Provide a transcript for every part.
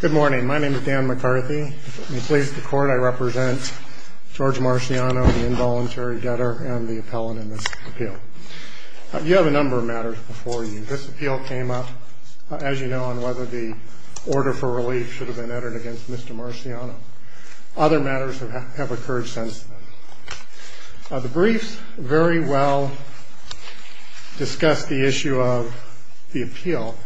Good morning. My name is Dan McCarthy. I represent George Marciano, the involuntary debtor, and the appellant in this appeal. You have a number of matters before you. This appeal came up, as you know, on whether the order for relief should have been entered against Mr. Marciano. Other matters have occurred since. The briefs very well discuss the issue of the appeal,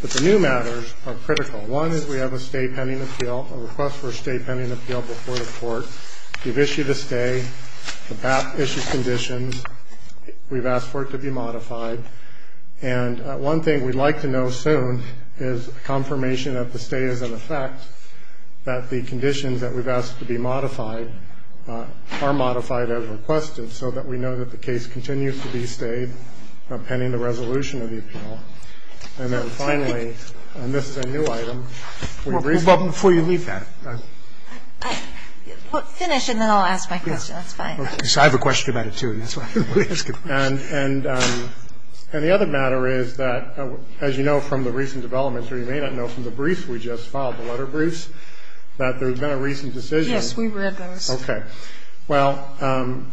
but the new matters are critical. One is we have a stay pending appeal, a request for a stay pending appeal before the court. We've issued a stay. The BAP issues conditions. We've asked for it to be modified. And one thing we'd like to know soon is confirmation that the stay is in effect, that the conditions that we've asked to be modified are modified as requested, so that we know that the case continues to be stayed pending the resolution of the appeal. And then finally, and this is a new item, would you brief me? Sotomayor Well, before you leave that, I'm going to finish and then I'll ask my question. That's fine. Breyer So I have a question about it, too, and that's why I'm asking. Chapnick And the other matter is that, as you know from the recent developments or you may not know from the briefs we just filed, the letter briefs, that there's been a recent decision. Sotomayor Yes, we read those. Chapnick Okay. Well,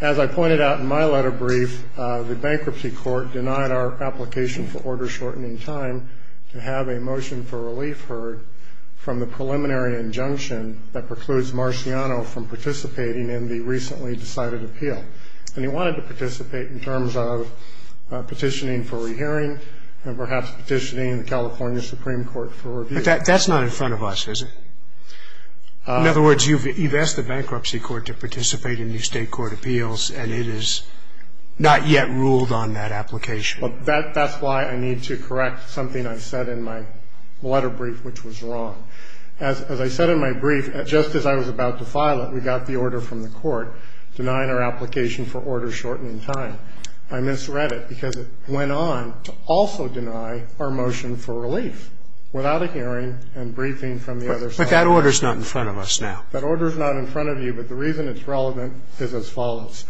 as I pointed out in my letter brief, the bankruptcy court denied our application for order-shortening time to have a motion for relief heard from the preliminary injunction that precludes Marciano from participating in the recently decided appeal. And he wanted to participate in terms of petitioning for rehearing and perhaps petitioning the California Supreme Court for review. Breyer But that's not in front of us, is it? In other words, you've asked the bankruptcy court to participate in new state court appeals and it has not yet ruled on that application. Chapnick That's why I need to correct something I said in my letter brief, which was wrong. As I said in my brief, just as I was about to file it, we got the order from the court denying our application for order-shortening time. I misread it because it went on to also deny our motion for relief without a hearing and briefing from the other side. Breyer But that order's not in front of us now. Chapnick That order's not in front of you, but the reason it's relevant is as follows.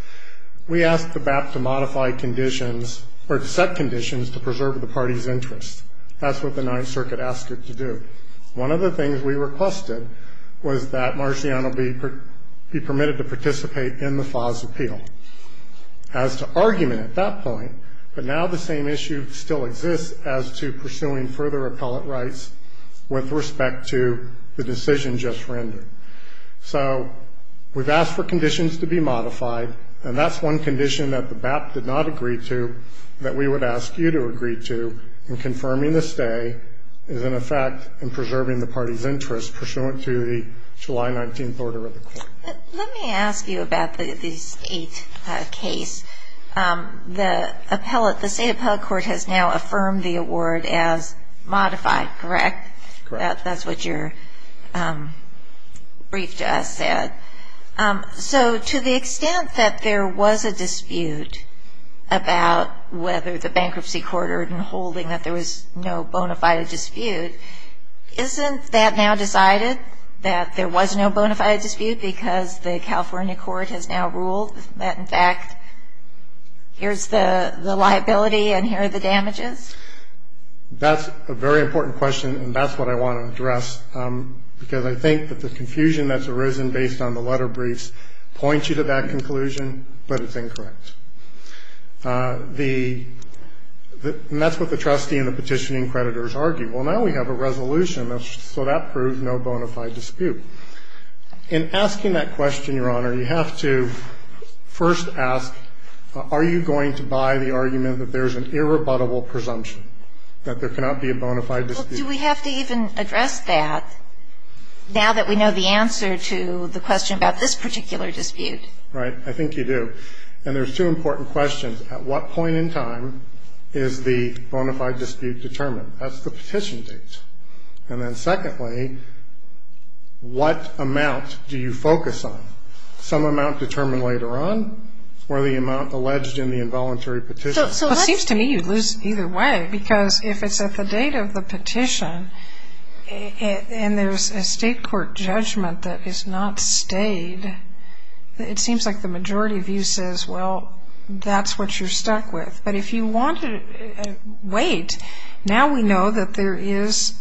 We asked the BAP to modify conditions or to set conditions to preserve the party's interest. That's what the Ninth Circuit asked it to do. One of the things we requested was that Marciano be permitted to participate in the FAS appeal. As to argument at that point, but now the same issue still exists as to pursuing further appellate rights with respect to the decision just rendered. So we've asked for conditions to be modified, and that's one condition that the BAP did not agree to that we would ask you to agree to in confirming the stay is in effect in preserving the party's interest pursuant to the July 19th order of the court. Let me ask you about the state case. The state appellate court has now affirmed the award as modified, correct? Correct. That's what your brief to us said. So to the extent that there was a dispute about whether the bankruptcy court or holding that there was no bona fide dispute, isn't that now decided that there was no bona fide dispute because the California court has now ruled that, in fact, here's the liability and here are the damages? That's a very important question, and that's what I want to address, because I think that the confusion that's arisen based on the letter briefs points you to that conclusion, but it's incorrect. And that's what the trustee and the petitioning creditors argue. Well, now we have a resolution, so that proves no bona fide dispute. In asking that question, Your Honor, you have to first ask are you going to buy the argument that there's an irrebuttable presumption that there cannot be a bona fide dispute? Well, do we have to even address that now that we know the answer to the question about this particular dispute? I think you do. And there's two important questions. At what point in time is the bona fide dispute determined? That's the petition date. And then secondly, what amount do you focus on? Some amount determined later on or the amount alleged in the involuntary petition? Well, it seems to me you lose either way, because if it's at the date of the petition and there's a state court judgment that is not stayed, it seems like the majority of you says, well, that's what you're stuck with. But if you want to wait, now we know that there is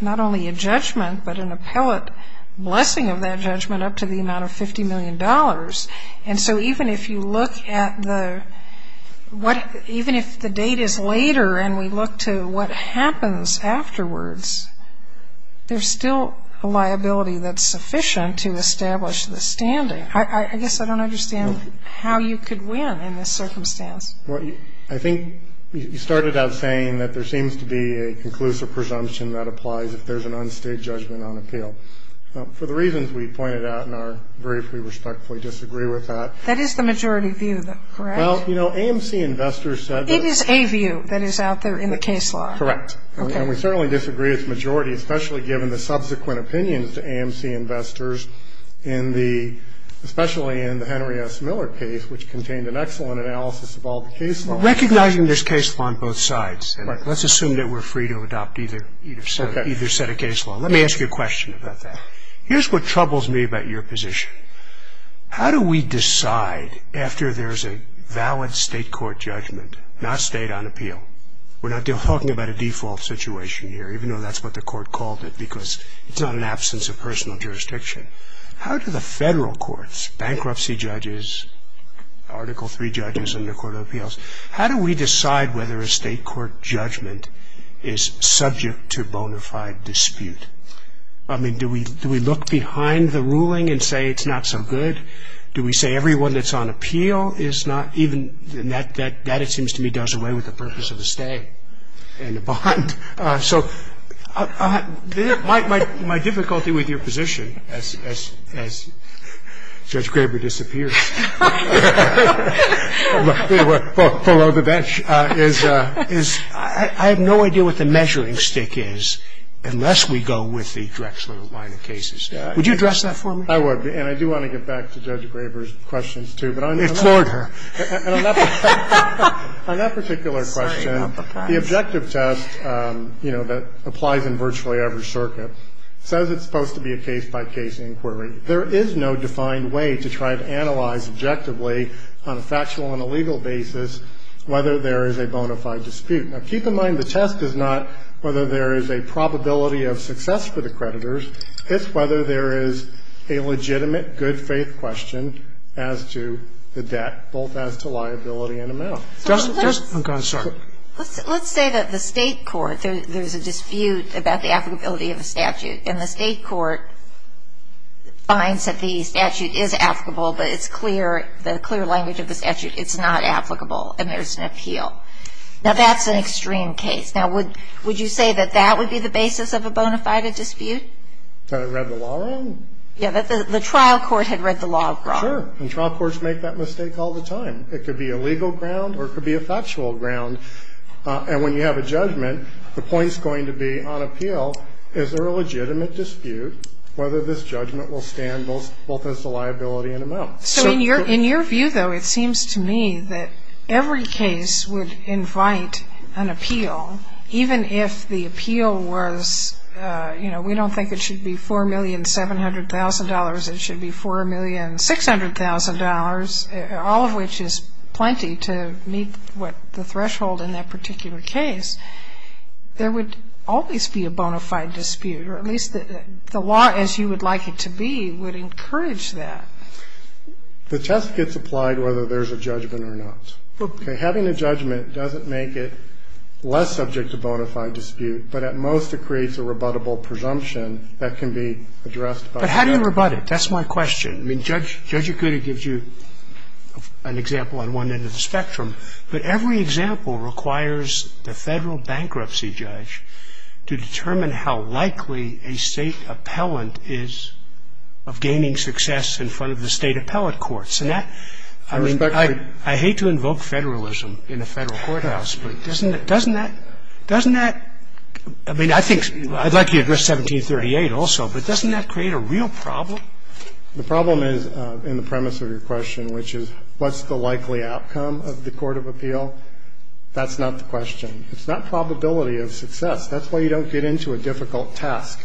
not only a judgment, but an appellate blessing of that judgment up to the amount of $50 million. And so even if you look at the what, even if the date is later and we look to what happens afterwards, there's still a liability that's sufficient to establish the standing. I guess I don't understand how you could win in this circumstance. Well, I think you started out saying that there seems to be a conclusive presumption that applies if there's an unstayed judgment on appeal. For the reasons we pointed out in our brief, we respectfully disagree with that. That is the majority view, though, correct? Well, you know, AMC investors said that. It is a view that is out there in the case law. Correct. Okay. And we certainly disagree with the majority, especially given the subsequent opinions to AMC investors in the, especially in the Henry S. Miller case, which contained an excellent analysis of all the case laws. Recognizing there's case law on both sides. Right. Let's assume that we're free to adopt either set of case law. Let me ask you a question about that. Here's what troubles me about your position. How do we decide after there's a valid state court judgment, not state on appeal? We're not talking about a default situation here, even though that's what the court called it, because it's not an absence of personal jurisdiction. How do the federal courts, bankruptcy judges, Article III judges under court of appeals, how do we decide whether a state court judgment is subject to bona fide dispute? I mean, do we look behind the ruling and say it's not so good? Do we say everyone that's on appeal is not even, and that it seems to me does away with the purpose of the stay and the bond. So my difficulty with your position, as Judge Graber disappears. Below the bench, is I have no idea what the measuring stick is unless we go with the Drexler line of cases. Would you address that for me? I would. And I do want to get back to Judge Graber's questions, too. It floored her. On that particular question, the objective test, you know, that applies in virtually every circuit, says it's supposed to be a case-by-case inquiry. There is no defined way to try to analyze objectively on a factual and a legal basis whether there is a bona fide dispute. Now, keep in mind the test is not whether there is a probability of success for the creditors. It's whether there is a legitimate good-faith question as to the debt, both as to liability and amount. Justice Kagan, sorry. Let's say that the state court, there's a dispute about the applicability of a statute, and the state court finds that the statute is applicable, but it's clear, the clear language of the statute, it's not applicable, and there's an appeal. Now, that's an extreme case. Now, would you say that that would be the basis of a bona fide dispute? That it read the law wrong? Yeah, that the trial court had read the law wrong. Sure. And trial courts make that mistake all the time. It could be a legal ground or it could be a factual ground. And when you have a judgment, the point is going to be on appeal, is there a legitimate dispute, whether this judgment will stand both as a liability and amount. So in your view, though, it seems to me that every case would invite an appeal, even if the appeal was, you know, we don't think it should be $4,700,000. It should be $4,600,000, all of which is plenty to meet what the threshold in that particular case. There would always be a bona fide dispute, or at least the law as you would like it to be would encourage that. The test gets applied whether there's a judgment or not. Okay. Having a judgment doesn't make it less subject to bona fide dispute, but at most it creates a rebuttable presumption that can be addressed. But how do you rebut it? That's my question. I mean, Judge Akuta gives you an example on one end of the spectrum, but every example requires the Federal bankruptcy judge to determine how likely a State appellant is of gaining success in front of the State appellate courts. And that, I mean, I hate to invoke Federalism in a Federal courthouse, but doesn't that, doesn't that, doesn't that, I mean, I think I'd like you to address 1738 also, but doesn't that create a real problem? The problem is in the premise of your question, which is what's the likely outcome of the court of appeal. That's not the question. It's not probability of success. That's why you don't get into a difficult task.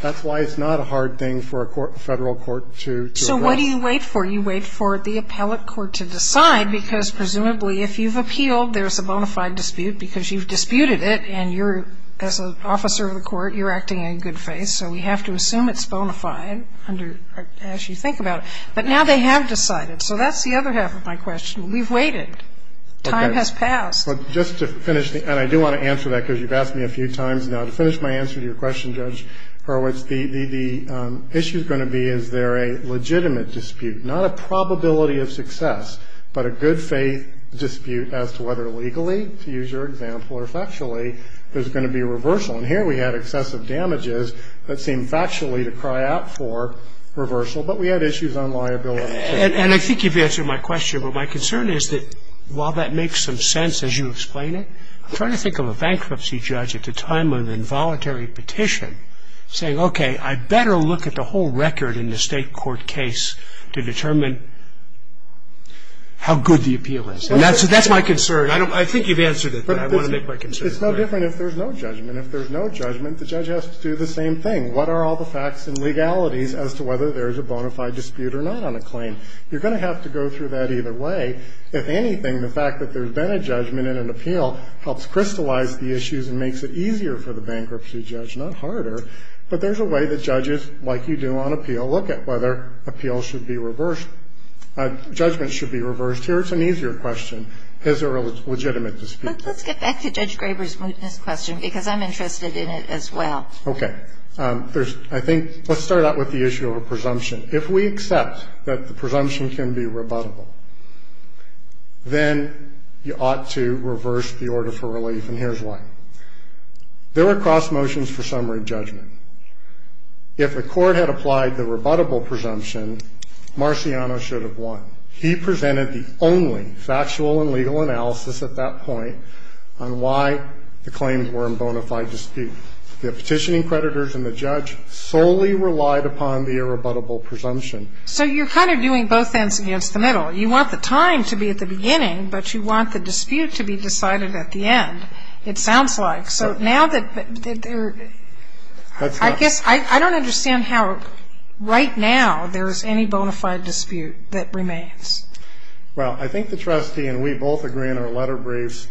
That's why it's not a hard thing for a Federal court to address. So what do you wait for? You wait for the appellate court to decide, because presumably if you've appealed, there's a bona fide dispute because you've disputed it and you're, as an officer of the court, you're acting in good faith, so we have to assume it's bona fide as you think about it. But now they have decided. So that's the other half of my question. We've waited. Time has passed. But just to finish, and I do want to answer that because you've asked me a few times now. To finish my answer to your question, Judge Horowitz, the issue is going to be is there a legitimate dispute, not a probability of success, but a good faith dispute as to whether legally, to use your example, or factually there's going to be a reversal. And here we had excessive damages that seemed factually to cry out for reversal, but we had issues on liability, too. And I think you've answered my question, but my concern is that while that makes some sense as you explain it, I'm trying to think of a bankruptcy judge at the time of an involuntary petition saying, okay, I better look at the whole record in the State court case to determine how good the appeal is. And that's my concern. I think you've answered it, but I want to make my concern clear. It's no different if there's no judgment. If there's no judgment, the judge has to do the same thing. What are all the facts and legalities as to whether there's a bona fide dispute or not on a claim? You're going to have to go through that either way. If anything, the fact that there's been a judgment in an appeal helps crystallize the issues and makes it easier for the bankruptcy judge, not harder. But there's a way that judges, like you do on appeal, look at whether appeal should be reversed, judgments should be reversed. Here it's an easier question. Is there a legitimate dispute? Ginsburg. But let's get back to Judge Graber's mootness question, because I'm interested in it as well. Okay. There's, I think, let's start out with the issue of a presumption. If we accept that the presumption can be rebuttable, then you ought to reverse the order for relief, and here's why. There are cross motions for summary judgment. If the court had applied the rebuttable presumption, Marciano should have won. He presented the only factual and legal analysis at that point on why the claims were in bona fide dispute. The petitioning creditors and the judge solely relied upon the irrebuttable presumption. So you're kind of doing both ends against the middle. You want the time to be at the beginning, but you want the dispute to be decided at the end, it sounds like. So now that there are, I guess, I don't understand how right now there is any bona fide dispute that remains. Well, I think the trustee and we both agree in our letter briefs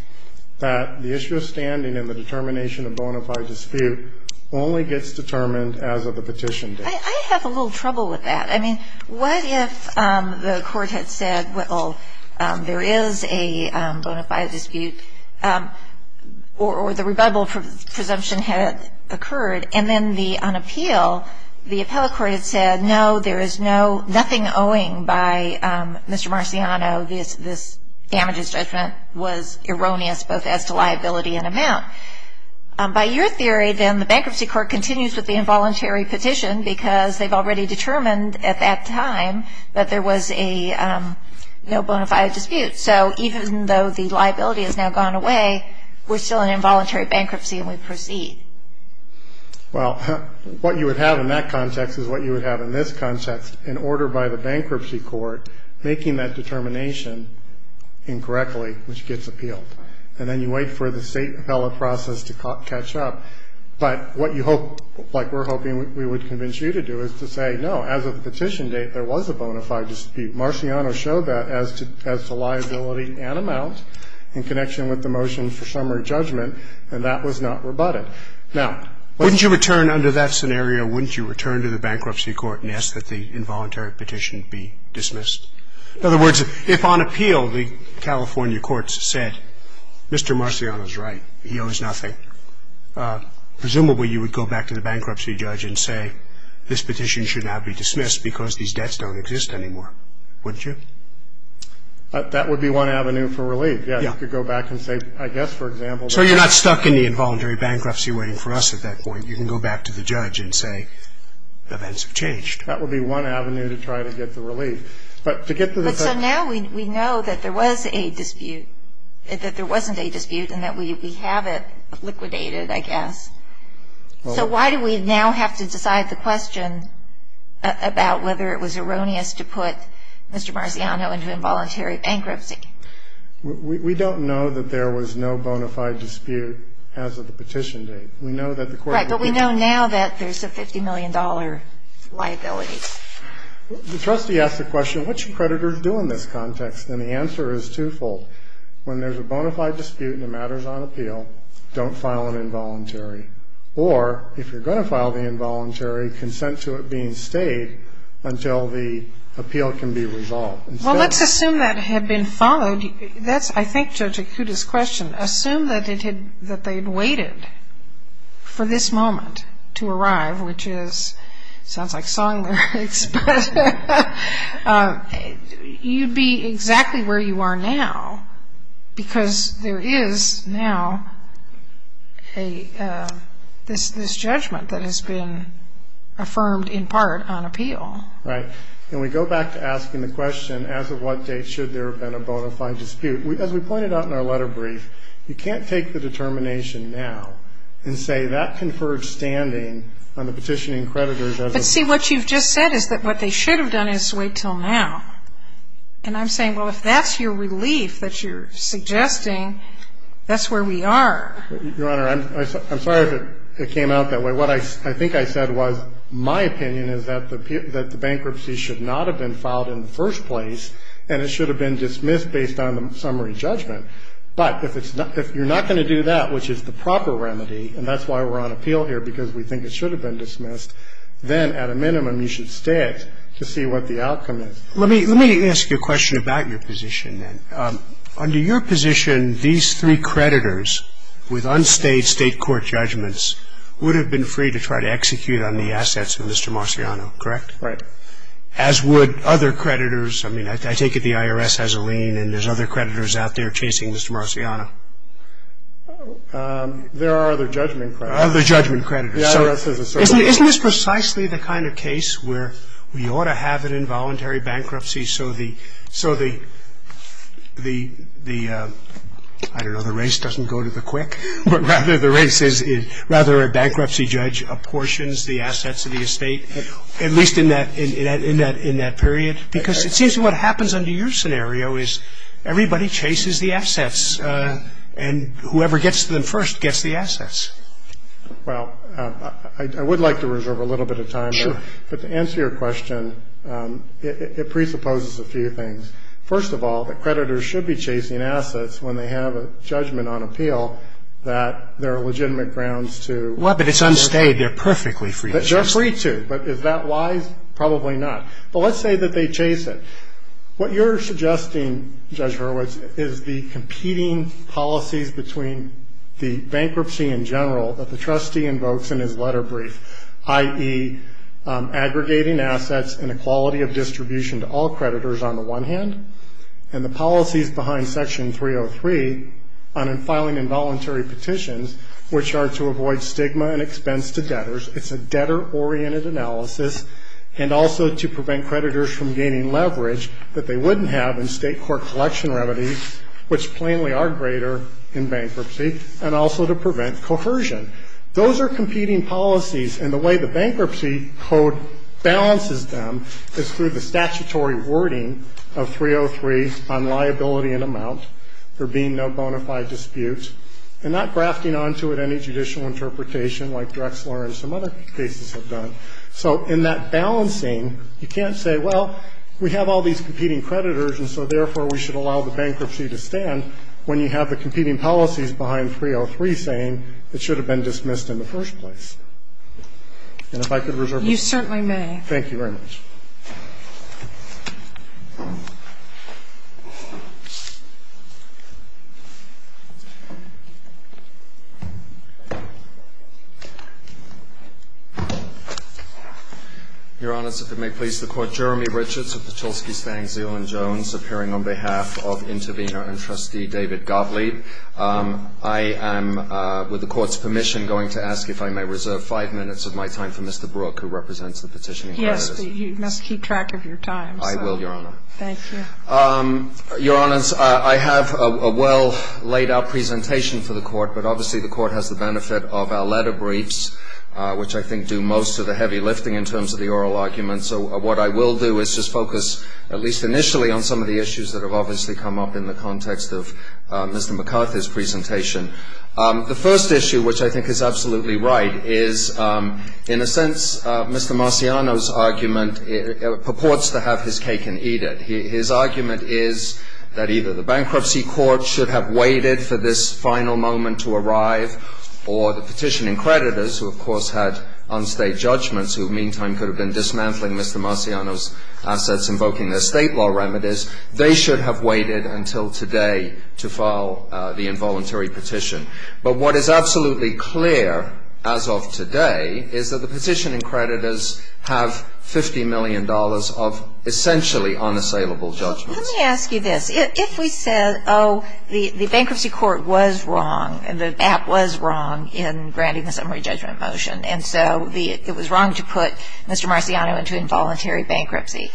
that the issue of standing and the determination of bona fide dispute only gets determined as of the petition date. I have a little trouble with that. I mean, what if the court had said, well, there is a bona fide dispute, or the rebuttable presumption had occurred, and then on appeal, the appellate court had said, no, there is nothing owing by Mr. Marciano. This damages judgment was erroneous both as to liability and amount. By your theory, then, the bankruptcy court continues with the involuntary petition because they've already determined at that time that there was a no bona fide dispute. So even though the liability has now gone away, we're still in involuntary bankruptcy and we proceed. Well, what you would have in that context is what you would have in this context. In order by the bankruptcy court, making that determination incorrectly, which gets appealed. And then you wait for the state appellate process to catch up. But what you hope, like we're hoping we would convince you to do, is to say, no, as of the petition date, there was a bona fide dispute. Marciano showed that as to liability and amount in connection with the motion for summary judgment, and that was not rebutted. Now, wouldn't you return under that scenario, wouldn't you return to the bankruptcy court and ask that the involuntary petition be dismissed? In other words, if on appeal the California courts said, Mr. Marciano's right, he owes nothing, presumably you would go back to the bankruptcy judge and say, this petition should now be dismissed because these debts don't exist anymore, wouldn't you? That would be one avenue for relief. Yeah. You could go back and say, I guess, for example. So you're not stuck in the involuntary bankruptcy waiting for us at that point. You can go back to the judge and say, events have changed. That would be one avenue to try to get the relief. But to get to the point. But so now we know that there was a dispute, that there wasn't a dispute, and that we have it liquidated, I guess. So why do we now have to decide the question about whether it was erroneous to put Mr. Marciano into involuntary bankruptcy? We don't know that there was no bona fide dispute as of the petition date. Right. But we know now that there's a $50 million liability. The trustee asked the question, what should creditors do in this context? And the answer is twofold. When there's a bona fide dispute and it matters on appeal, don't file an involuntary. Or if you're going to file the involuntary, consent to it being stayed until the appeal can be resolved. Well, let's assume that had been followed. That's, I think, Judge Akuta's question. Assume that they had waited for this moment to arrive, which sounds like song lyrics, but you'd be exactly where you are now because there is now this judgment that has been affirmed in part on appeal. Right. And we go back to asking the question, as of what date should there have been a bona fide dispute? As we pointed out in our letter brief, you can't take the determination now and say that conferred standing on the petitioning creditors. But, see, what you've just said is that what they should have done is wait until now. And I'm saying, well, if that's your relief that you're suggesting, that's where we are. Your Honor, I'm sorry if it came out that way. What I think I said was my opinion is that the bankruptcy should not have been filed in the first place and it should have been dismissed based on the summary judgment. But if you're not going to do that, which is the proper remedy, and that's why we're on appeal here because we think it should have been dismissed, then at a minimum you should stay it to see what the outcome is. Let me ask you a question about your position then. Under your position, these three creditors with unstayed state court judgments would have been free to try to execute on the assets of Mr. Marciano, correct? Right. As would other creditors. I mean, I take it the IRS has a lien and there's other creditors out there chasing Mr. Marciano. There are other judgment creditors. Other judgment creditors. So isn't this precisely the kind of case where we ought to have an involuntary bankruptcy so the, I don't know, the race doesn't go to the quick, but rather a bankruptcy judge apportions the assets of the estate, at least in that period? Because it seems to me what happens under your scenario is everybody chases the assets and whoever gets to them first gets the assets. Well, I would like to reserve a little bit of time. Sure. But to answer your question, it presupposes a few things. First of all, the creditors should be chasing assets when they have a judgment on appeal that there are legitimate grounds to. Well, but it's unstayed. They're perfectly free to. They're free to. But is that wise? Probably not. But let's say that they chase it. What you're suggesting, Judge Hurwitz, is the competing policies between the bankruptcy in general that the trustee invokes in his letter brief, i.e., aggregating assets and equality of distribution to all creditors on the one hand, and the policies behind Section 303 on filing involuntary petitions, which are to avoid stigma and expense to debtors. It's a debtor-oriented analysis, and also to prevent creditors from gaining leverage that they wouldn't have in state court collection remedies, which plainly are greater in bankruptcy, and also to prevent coercion. Those are competing policies, and the way the bankruptcy code balances them is through the statutory wording of 303 on liability and amount, there being no bona fide dispute, and not grafting onto it any judicial interpretation like Drexler and some other cases have done. So in that balancing, you can't say, well, we have all these competing creditors, and so, therefore, we should allow the bankruptcy to stand when you have the competing policies behind 303 saying it should have been dismissed in the first place. And if I could reserve my time. You certainly may. Thank you very much. Your Honor, I have a well-laid-out presentation for the Court, but obviously the Court has the benefit of our letter briefs, which I think do most of the heavy lifting in terms of the oral arguments. which I think do most of the heavy lifting in terms of the oral arguments. What I will do is just focus, at least initially, on some of the issues that have obviously come up in the context of Mr. McCarthy's presentation. The first issue, which I think is absolutely right, is in a sense Mr. Marciano's argument purports to have his cake and eat it. His argument is that either the bankruptcy court should have waited for this final moment to arrive, or the petitioning creditors, who, of course, had unstayed judgments, who meantime could have been dismantling Mr. Marciano's assets, invoking the state law remedies, they should have waited until today to file the involuntary petition. But what is absolutely clear as of today is that the petitioning creditors have $50 million of essentially unassailable judgments. Let me ask you this. If we said, oh, the bankruptcy court was wrong, and the app was wrong in granting the summary judgment motion, and so it was wrong to put Mr. Marciano into involuntary bankruptcy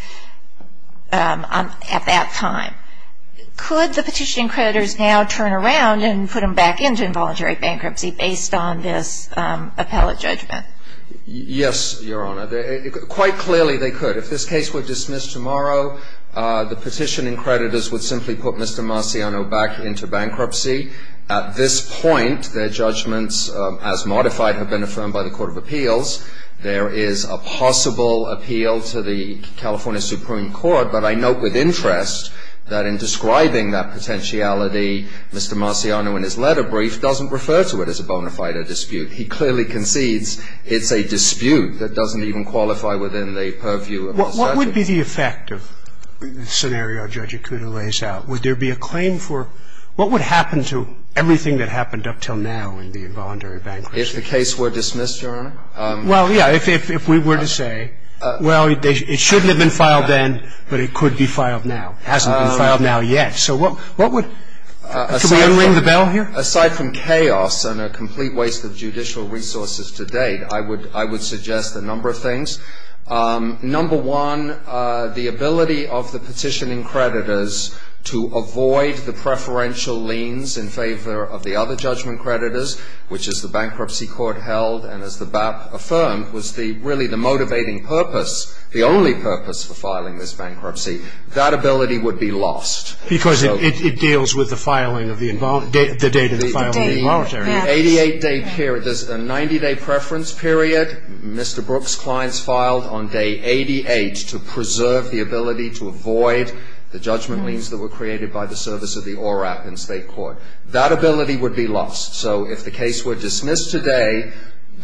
at that time, could the petitioning creditors now turn around and put him back into involuntary bankruptcy based on this appellate judgment? Yes, Your Honor. Quite clearly they could. If this case were dismissed tomorrow, the petitioning creditors would simply put Mr. Marciano back into bankruptcy. At this point, their judgments, as modified, have been affirmed by the court of appeals. There is a possible appeal to the California Supreme Court. But I note with interest that in describing that potentiality, Mr. Marciano in his letter brief doesn't refer to it as a bona fide dispute. He clearly concedes it's a dispute that doesn't even qualify within the purview of the statute. What would be the effect of the scenario Judge Akuda lays out? Would there be a claim for what would happen to everything that happened up until now in the involuntary bankruptcy? If the case were dismissed, Your Honor? Well, yeah, if we were to say, well, it shouldn't have been filed then, but it could be filed now. It hasn't been filed now yet. So what would? Can we unring the bell here? Aside from chaos and a complete waste of judicial resources to date, I would suggest a number of things. Number one, the ability of the petitioning creditors to avoid the preferential liens in favor of the other judgment creditors, which, as the bankruptcy court held and as the BAP affirmed, was really the motivating purpose, the only purpose for filing this bankruptcy. That ability would be lost. Because it deals with the filing of the date of the filing of the involuntary. There's a 90-day preference period. Mr. Brooks' clients filed on day 88 to preserve the ability to avoid the judgment liens that were created by the service of the ORAP in state court. That ability would be lost. So if the case were dismissed today,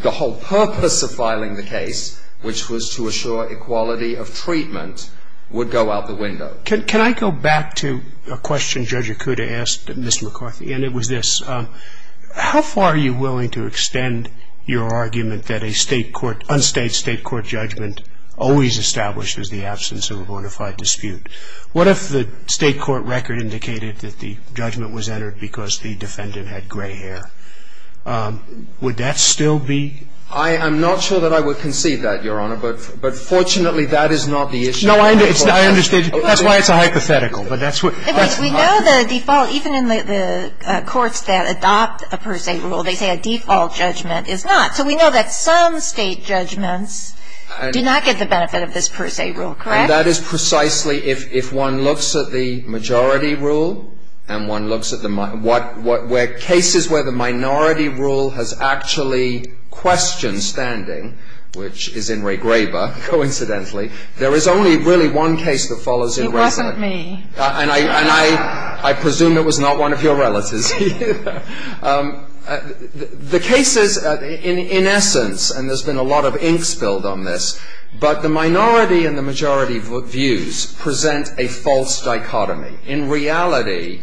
the whole purpose of filing the case, which was to assure equality of treatment, would go out the window. Can I go back to a question Judge Akuda asked Mr. McCarthy? And it was this. How far are you willing to extend your argument that a state court, unstated state court judgment always establishes the absence of a bona fide dispute? What if the state court record indicated that the judgment was entered because the defendant had gray hair? Would that still be? I am not sure that I would concede that, Your Honor. But fortunately, that is not the issue. No, I understand. That's why it's a hypothetical. We know the default. Even in the courts that adopt a per se rule, they say a default judgment is not. So we know that some state judgments do not get the benefit of this per se rule, correct? And that is precisely if one looks at the majority rule and one looks at the minority, where cases where the minority rule has actually questioned standing, which is in Ray Graber, coincidentally, there is only really one case that follows in resonance. Me. And I presume it was not one of your relatives. The cases, in essence, and there's been a lot of ink spilled on this, but the minority and the majority views present a false dichotomy. In reality,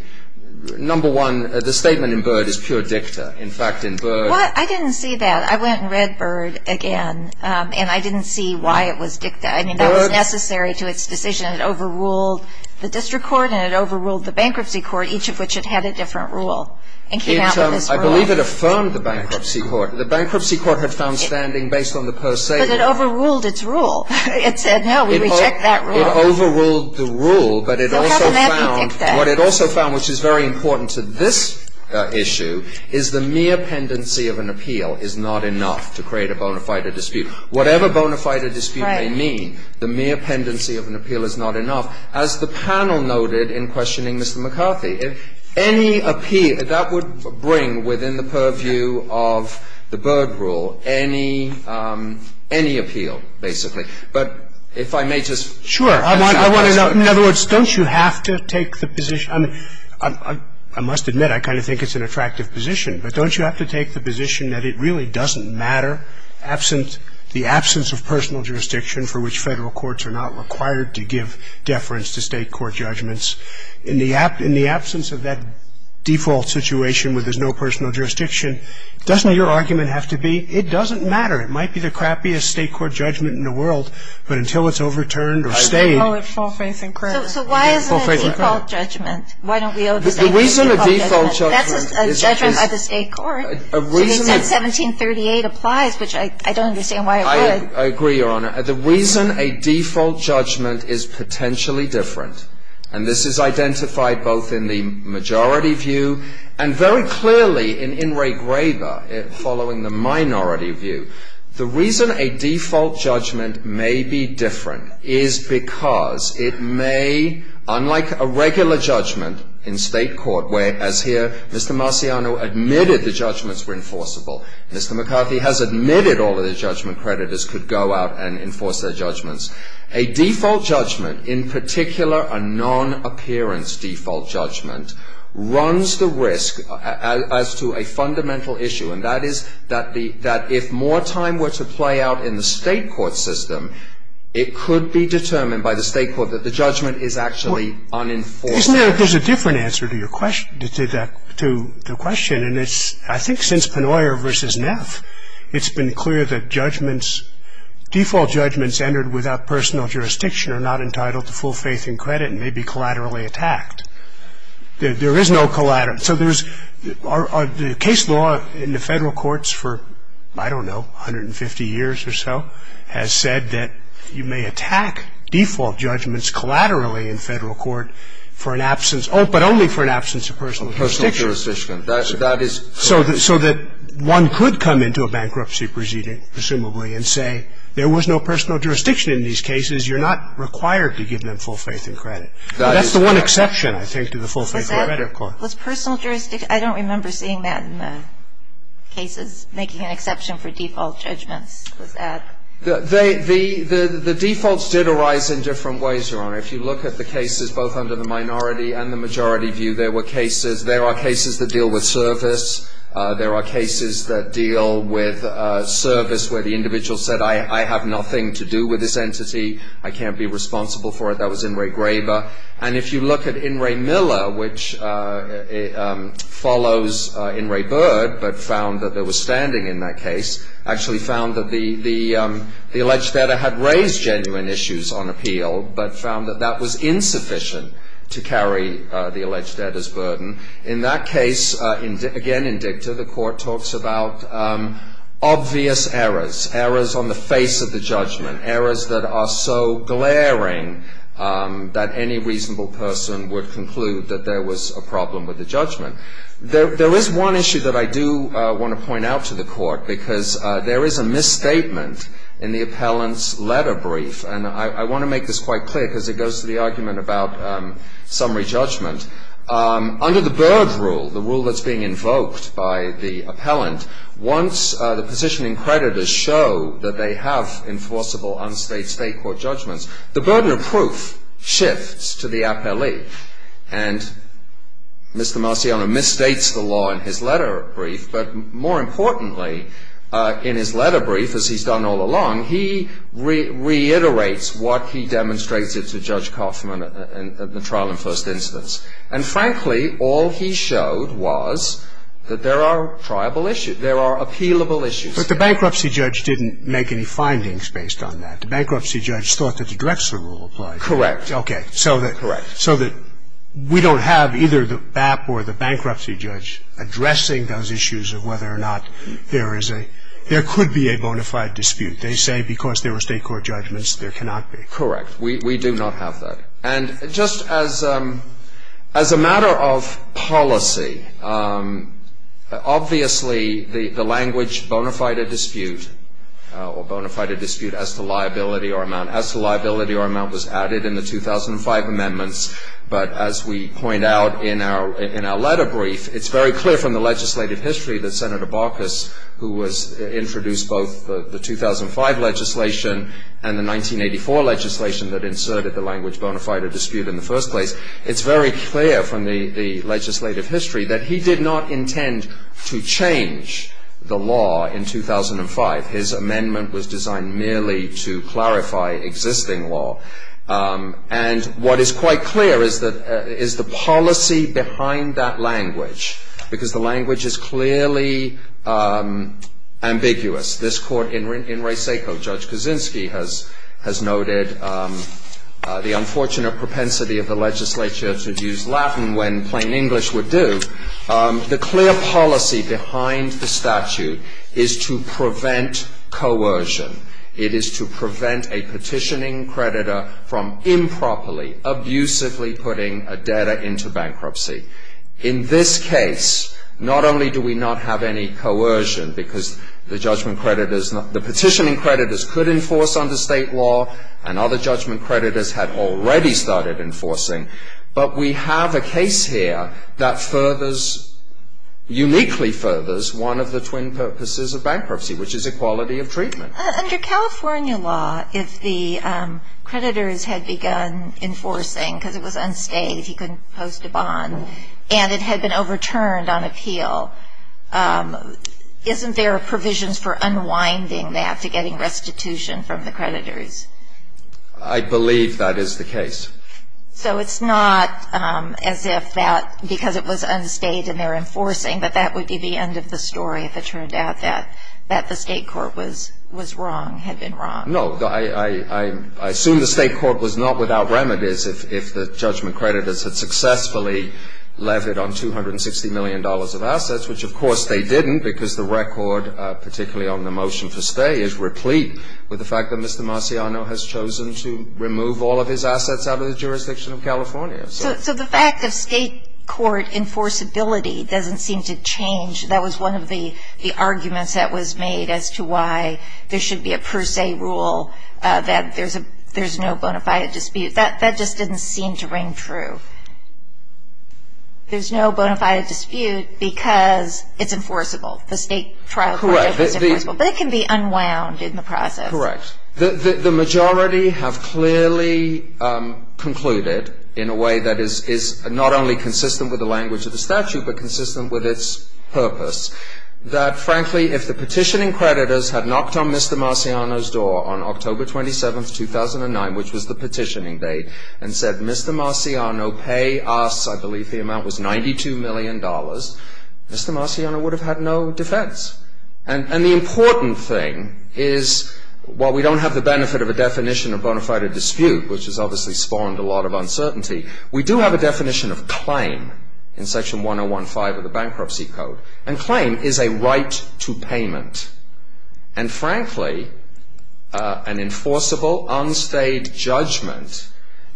number one, the statement in Byrd is pure dicta. In fact, in Byrd. Well, I didn't see that. I went and read Byrd again, and I didn't see why it was dicta. I mean, that was necessary to its decision. It overruled the district court, and it overruled the bankruptcy court, each of which had had a different rule and came out with this rule. I believe it affirmed the bankruptcy court. The bankruptcy court had found standing based on the per se rule. But it overruled its rule. It said, no, we reject that rule. It overruled the rule, but it also found what it also found, which is very important to this issue, is the mere pendency of an appeal is not enough to create a bona fide dispute. Whatever bona fide dispute may mean, the mere pendency of an appeal is not enough, as the panel noted in questioning Mr. McCarthy. Any appeal, that would bring within the purview of the Byrd rule, any appeal, basically. But if I may just add to that. Sure. In other words, don't you have to take the position? I mean, I must admit I kind of think it's an attractive position, but don't you have to take the position that it really doesn't matter, absent the absence of personal jurisdiction for which Federal courts are not required to give deference to State court judgments, in the absence of that default situation where there's no personal jurisdiction, doesn't your argument have to be, it doesn't matter. It might be the crappiest State court judgment in the world, but until it's overturned or stayed. So why isn't it a default judgment? The reason a default judgment. That's a judgment of the State court. A reason. 1738 applies, which I don't understand why it would. I agree, Your Honor. The reason a default judgment is potentially different, and this is identified both in the majority view and very clearly in In re Graeba, following the minority view. The reason a default judgment may be different is because it may, unlike a regular judgment in State court where, as here, Mr. Marciano admitted the judgments were enforceable. Mr. McCarthy has admitted all of the judgment creditors could go out and enforce their judgments. A default judgment, in particular a non-appearance default judgment, runs the risk as to a fundamental issue, and that is that if more time were to play out in the State court system, it could be determined by the State court that the judgment is actually being enforced. Isn't there a different answer to the question? I think since Pennoyer v. Neff, it's been clear that default judgments entered without personal jurisdiction are not entitled to full faith and credit and may be collaterally attacked. There is no collateral. So the case law in the Federal courts for, I don't know, 150 years or so, has said that you may attack default judgments collaterally in Federal court for an absence of, but only for an absence of personal jurisdiction. So that one could come into a bankruptcy proceeding, presumably, and say there was no personal jurisdiction in these cases, you're not required to give them full faith and credit. That's the one exception, I think, to the full faith and credit clause. Was personal jurisdiction, I don't remember seeing that in the cases, making an exception for default judgments. The defaults did arise in different ways, Your Honor. If you look at the cases, both under the minority and the majority view, there were cases. There are cases that deal with service. There are cases that deal with service where the individual said, I have nothing to do with this entity. I can't be responsible for it. That was In re Graber. And if you look at In re Miller, which follows In re Bird, but found that there was genuine issues on appeal, but found that that was insufficient to carry the alleged debtor's burden. In that case, again in dicta, the court talks about obvious errors, errors on the face of the judgment, errors that are so glaring that any reasonable person would conclude that there was a problem with the judgment. There is one issue that I do want to point out to the court, because there is a misstatement in the appellant's letter brief. And I want to make this quite clear, because it goes to the argument about summary judgment. Under the Bird rule, the rule that's being invoked by the appellant, once the positioning creditors show that they have enforceable unstate state court judgments, the burden of proof shifts to the appellee. And Mr. Marciano misstates the law in his letter brief, but more importantly, in his letter brief, as he's done all along, he reiterates what he demonstrates to Judge Kaufman at the trial in first instance. And frankly, all he showed was that there are triable issues, there are appealable issues. But the bankruptcy judge didn't make any findings based on that. The bankruptcy judge thought that the Drexler rule applied. Correct. Okay. Correct. So that we don't have either the BAP or the bankruptcy judge addressing those issues of whether or not there is a, there could be a bona fide dispute. They say because there were state court judgments, there cannot be. Correct. We do not have that. And just as a matter of policy, obviously the language bona fide dispute or bona fide dispute in the first place, it's very clear from the legislative history that Senator Barkas, who was introduced both the 2005 legislation and the 1984 legislation that inserted the language bona fide dispute in the first place, it's very clear from the legislative history that he did not intend to change the law in 2005. His amendment was designed merely to clarify existing law. And what is quite clear is that, is the policy behind that language, because the language is clearly ambiguous. This court in Reyseco, Judge Kaczynski has noted the unfortunate propensity of the legislature to use Latin when plain English would do. The clear policy behind the statute is to prevent coercion. It is to prevent a petitioning creditor from improperly, abusively putting a debtor into bankruptcy. In this case, not only do we not have any coercion because the judgment creditors, the petitioning creditors could enforce under state law and other judgment creditors had already started enforcing, but we have a case here that furthers, uniquely furthers, one of the twin purposes of bankruptcy, which is equality of treatment. Under California law, if the creditors had begun enforcing because it was unstayed, he couldn't post a bond, and it had been overturned on appeal, isn't there provisions for unwinding that to getting restitution from the creditors? I believe that is the case. So it's not as if that, because it was unstayed and they're enforcing, but that would be the end of the story if it turned out that the state court was wrong, had been wrong. No. I assume the state court was not without remedies if the judgment creditors had successfully levied on $260 million of assets, which of course they didn't because the record, particularly on the motion for stay, is replete with the fact that Mr. Marciano has chosen to remove all of his assets out of the jurisdiction of California. So the fact of state court enforceability doesn't seem to change. That was one of the arguments that was made as to why there should be a per se rule that there's no bona fide dispute. That just didn't seem to ring true. There's no bona fide dispute because it's enforceable. The state trial project is enforceable. But it can be unwound in the process. Correct. The majority have clearly concluded in a way that is not only consistent with the language of the statute but consistent with its purpose that, frankly, if the petitioning creditors had knocked on Mr. Marciano's door on October 27, 2009, which was the petitioning date, and said, Mr. Marciano, pay us, I believe the amount was $92 million, Mr. Marciano would have had no defense. And the important thing is, while we don't have the benefit of a definition of bona fide dispute, which has obviously spawned a lot of uncertainty, we do have a definition of claim in Section 1015 of the Bankruptcy Code. And claim is a right to payment. And, frankly, an enforceable unstayed judgment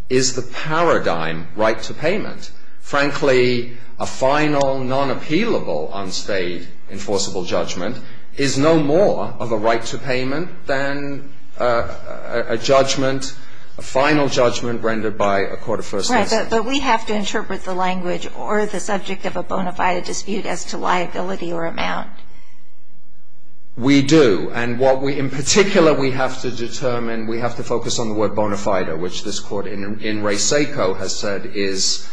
is the paradigm right to payment. Frankly, a final non-appealable unstayed enforceable judgment is no more of a right to payment than a judgment, a final judgment rendered by a court of first instance. Right. But we have to interpret the language or the subject of a bona fide dispute as to liability or amount. We do. And what we, in particular, we have to determine, we have to focus on the word bona fide, which this court, In Re Seco, has said is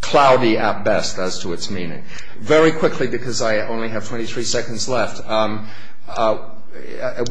cloudy at best as to its meaning. Very quickly, because I only have 23 seconds left,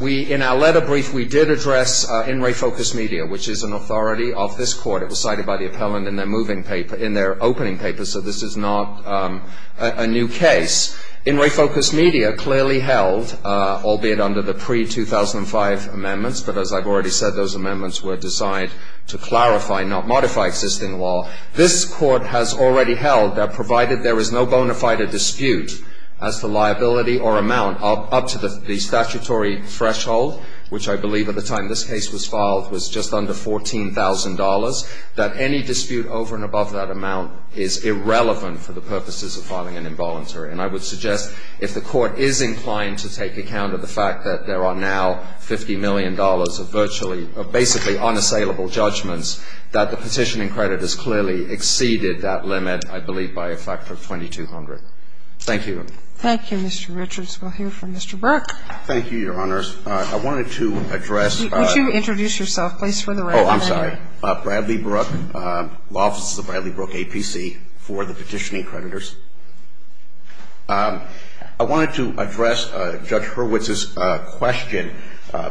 we, in our letter brief, we did address In Re Focus Media, which is an authority of this court. It was cited by the appellant in their opening paper, so this is not a new case. In Re Focus Media clearly held, albeit under the pre-2005 amendments, but as I've already said, those amendments were designed to clarify, not modify existing law, this court has already held that provided there is no bona fide dispute as to liability or amount up to the statutory threshold, which I believe at the time this case was filed was just under $14,000, that any dispute over and above that amount is irrelevant for the purposes of filing an involuntary. And I would suggest if the court is inclined to take account of the fact that there are now $50 million of virtually or basically unassailable judgments, that the petitioning credit has clearly exceeded that limit, I believe by a factor of 2,200. Thank you. Thank you, Mr. Richards. We'll hear from Mr. Brook. Thank you, Your Honor. I wanted to address the ---- Would you introduce yourself, please, for the record? Oh, I'm sorry. Bradley Brook, law officer of Bradley Brook APC for the petitioning creditors. I wanted to address Judge Hurwitz's question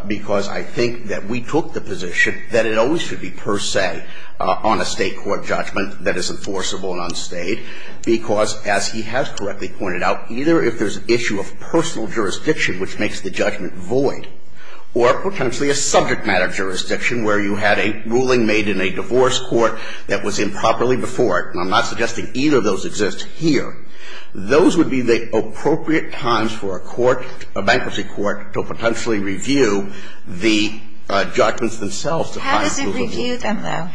because I think that we took the position that it always should be per se on a State court judgment that is enforceable and unstayed because, as he has correctly pointed out, either if there's an issue of personal jurisdiction, which makes the judgment void, or potentially a subject matter jurisdiction where you had a ruling made in a divorce court that was improperly enforced, and I'm not suggesting either of those exist here, those would be the appropriate times for a court, a bankruptcy court, to potentially review the judgments themselves to find ---- How does it review them, though?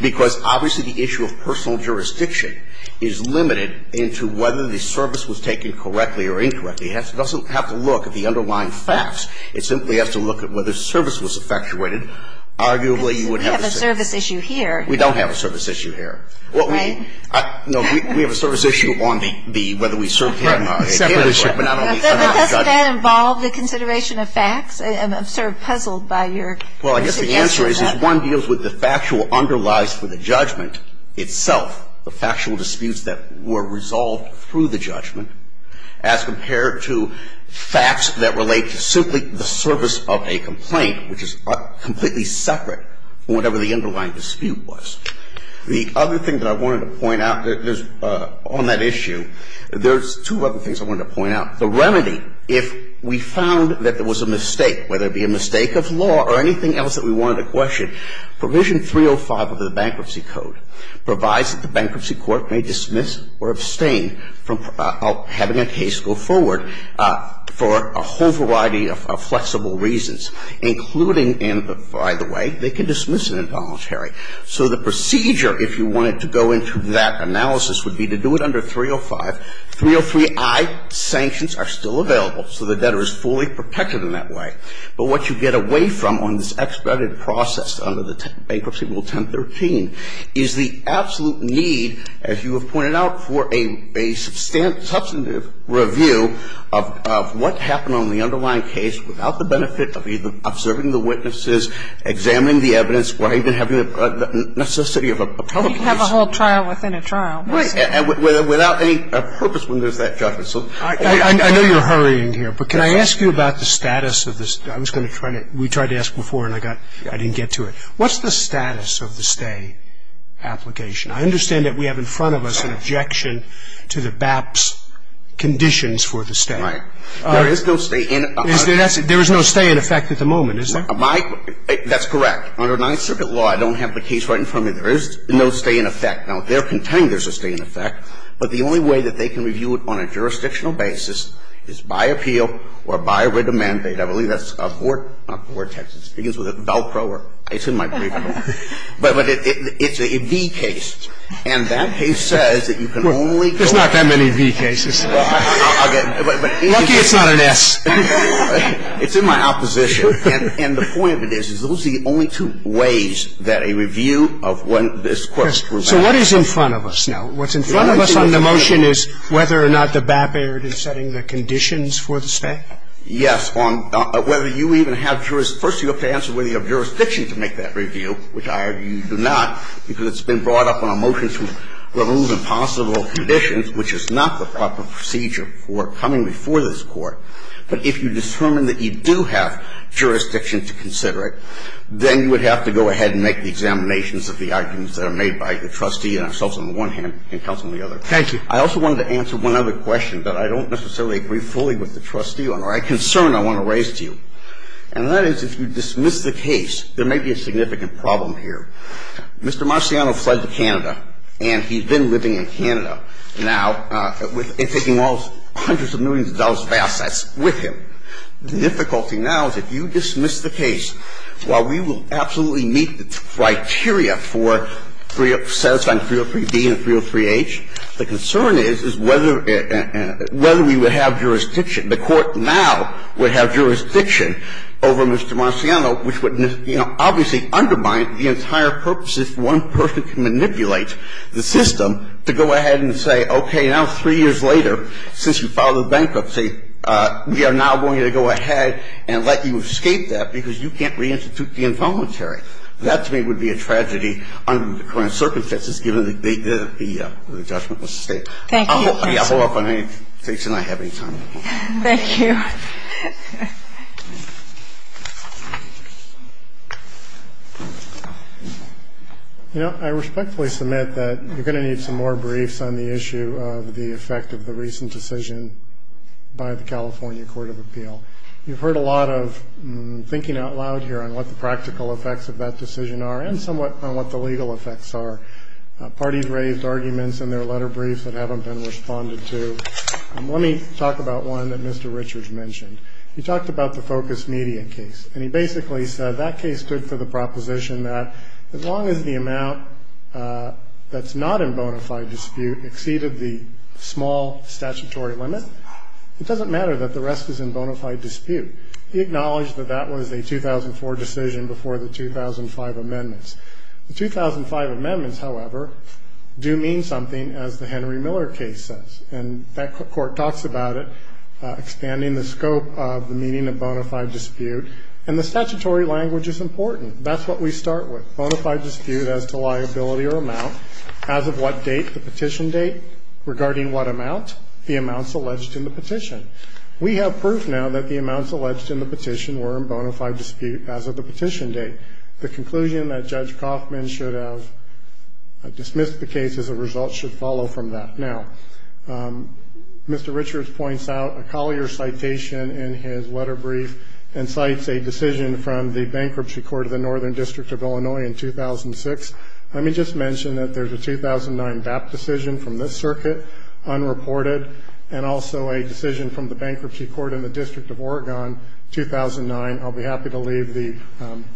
Because obviously the issue of personal jurisdiction is limited into whether the service was taken correctly or incorrectly. It doesn't have to look at the underlying facts. It simply has to look at whether service was effectuated. Arguably, you would have a ---- We have a service issue here. We don't have a service issue here. Right? No. We have a service issue on the ---- Right. Separate issue. Does that involve the consideration of facts? I'm sort of puzzled by your suggestion of that. Well, I guess the answer is this one deals with the factual underlies for the judgment itself, the factual disputes that were resolved through the judgment, as compared to facts that relate to simply the service of a complaint, which is completely separate from whatever the underlying dispute was. The other thing that I wanted to point out on that issue, there's two other things I wanted to point out. The remedy, if we found that there was a mistake, whether it be a mistake of law or anything else that we wanted to question, provision 305 of the Bankruptcy Code provides that the bankruptcy court may dismiss or abstain from having a case go forward for a whole variety of flexible reasons, including, and by the way, they can dismiss So the procedure, if you wanted to go into that analysis, would be to do it under 305. 303i, sanctions are still available, so the debtor is fully protected in that way. But what you get away from on this expedited process under the Bankruptcy Rule 1013 is the absolute need, as you have pointed out, for a substantive review of what happened on the underlying case without the benefit of either observing the witnesses, examining the evidence, or even having the necessity of a public case. You'd have a whole trial within a trial. Without any purpose when there's that judgment. I know you're hurrying here, but can I ask you about the status of this? I was going to try to, we tried to ask before and I didn't get to it. What's the status of the stay application? I understand that we have in front of us an objection to the BAP's conditions for the stay. Right. There is no stay in effect at the moment, is there? My, that's correct. Under Ninth Circuit law, I don't have the case right in front of me. There is no stay in effect. Now, they're contending there's a stay in effect, but the only way that they can review it on a jurisdictional basis is by appeal or by writ of mandate. I believe that's a Vortex. It begins with a Velcro. It's in my brief. But it's a V case. And that case says that you can only. There's not that many V cases. Lucky it's not an S. It's in my opposition. And the point of it is, is those are the only two ways that a review of when this Court's rule happens. So what is in front of us now? What's in front of us on the motion is whether or not the BAP error is setting the conditions for the stay? Yes. Whether you even have jurisdiction. First, you have to answer whether you have jurisdiction to make that review, which I do not, because it's been brought up on a motion to remove impossible conditions, which is not the proper procedure for coming before this Court. But if you determine that you do have jurisdiction to consider it, then you would have to go ahead and make the examinations of the arguments that are made by the trustee and ourselves on the one hand and counsel on the other. Thank you. I also wanted to answer one other question that I don't necessarily agree fully with the trustee on, or a concern I want to raise to you. And that is, if you dismiss the case, there may be a significant problem here. Mr. Marciano fled to Canada, and he's been living in Canada now. The difficulty now is if you dismiss the case, while we will absolutely meet the criteria for 3 of 303b and 303h, the concern is whether we would have jurisdiction, the Court now would have jurisdiction over Mr. Marciano, which would, you know, obviously undermine the entire purpose if one person can manipulate the system to go ahead and say, okay, now three years later, since you filed a bankruptcy, we are now going to go ahead and let you escape that because you can't reinstitute the involuntary. That to me would be a tragedy under the current circumstances, given the judgment was sustained. Thank you. Thank you. You know, I respectfully submit that you're going to need some more briefs on the issue of the effect of the recent decision by the California Court of Appeal. You've heard a lot of thinking out loud here on what the practical effects of that decision are and somewhat on what the legal effects are. Parties raised arguments in their letter briefs that haven't been responded to. Let me talk about one that Mr. Richards mentioned. He talked about the focus median case, and he basically said that case stood for the proposition that as long as the amount that's not in bona fide dispute exceeded the small statutory limit, it doesn't matter that the rest is in bona fide dispute. He acknowledged that that was a 2004 decision before the 2005 amendments. The 2005 amendments, however, do mean something, as the Henry Miller case says. And that court talks about it, expanding the scope of the meaning of bona fide dispute. And the statutory language is important. That's what we start with, bona fide dispute as to liability or amount, as of what date, the petition date, regarding what amount, the amounts alleged in the petition. We have proof now that the amounts alleged in the petition were in bona fide dispute as of the petition date. The conclusion that Judge Kaufman should have dismissed the case as a result should follow from that. Now, Mr. Richards points out a Collier citation in his letter brief and cites a decision from the Bankruptcy Court of the Northern District of Illinois in 2006. Let me just mention that there's a 2009 BAP decision from this circuit, unreported, and also a decision from the Bankruptcy Court in the District of Oregon, 2009. I'll be happy to leave the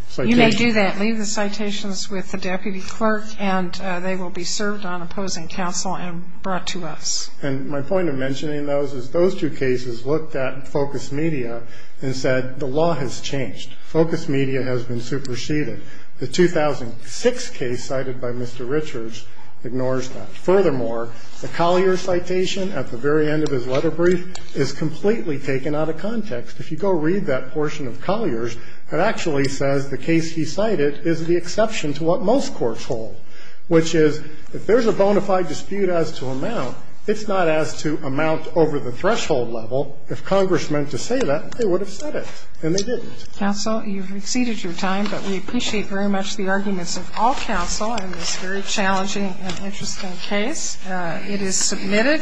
citation. You may do that. Leave the citations with the deputy clerk, and they will be served on opposing counsel and brought to us. And my point in mentioning those is those two cases looked at Focus Media and said the law has changed. Focus Media has been superseded. The 2006 case cited by Mr. Richards ignores that. Furthermore, the Collier citation at the very end of his letter brief is completely taken out of context. If you go read that portion of Collier's, it actually says the case he cited is the exception to what most courts hold, which is if there's a bona fide dispute as to amount, it's not as to amount over the threshold level. If Congress meant to say that, they would have said it, and they didn't. Counsel, you've exceeded your time, but we appreciate very much the arguments of all counsel in this very challenging and interesting case. It is submitted.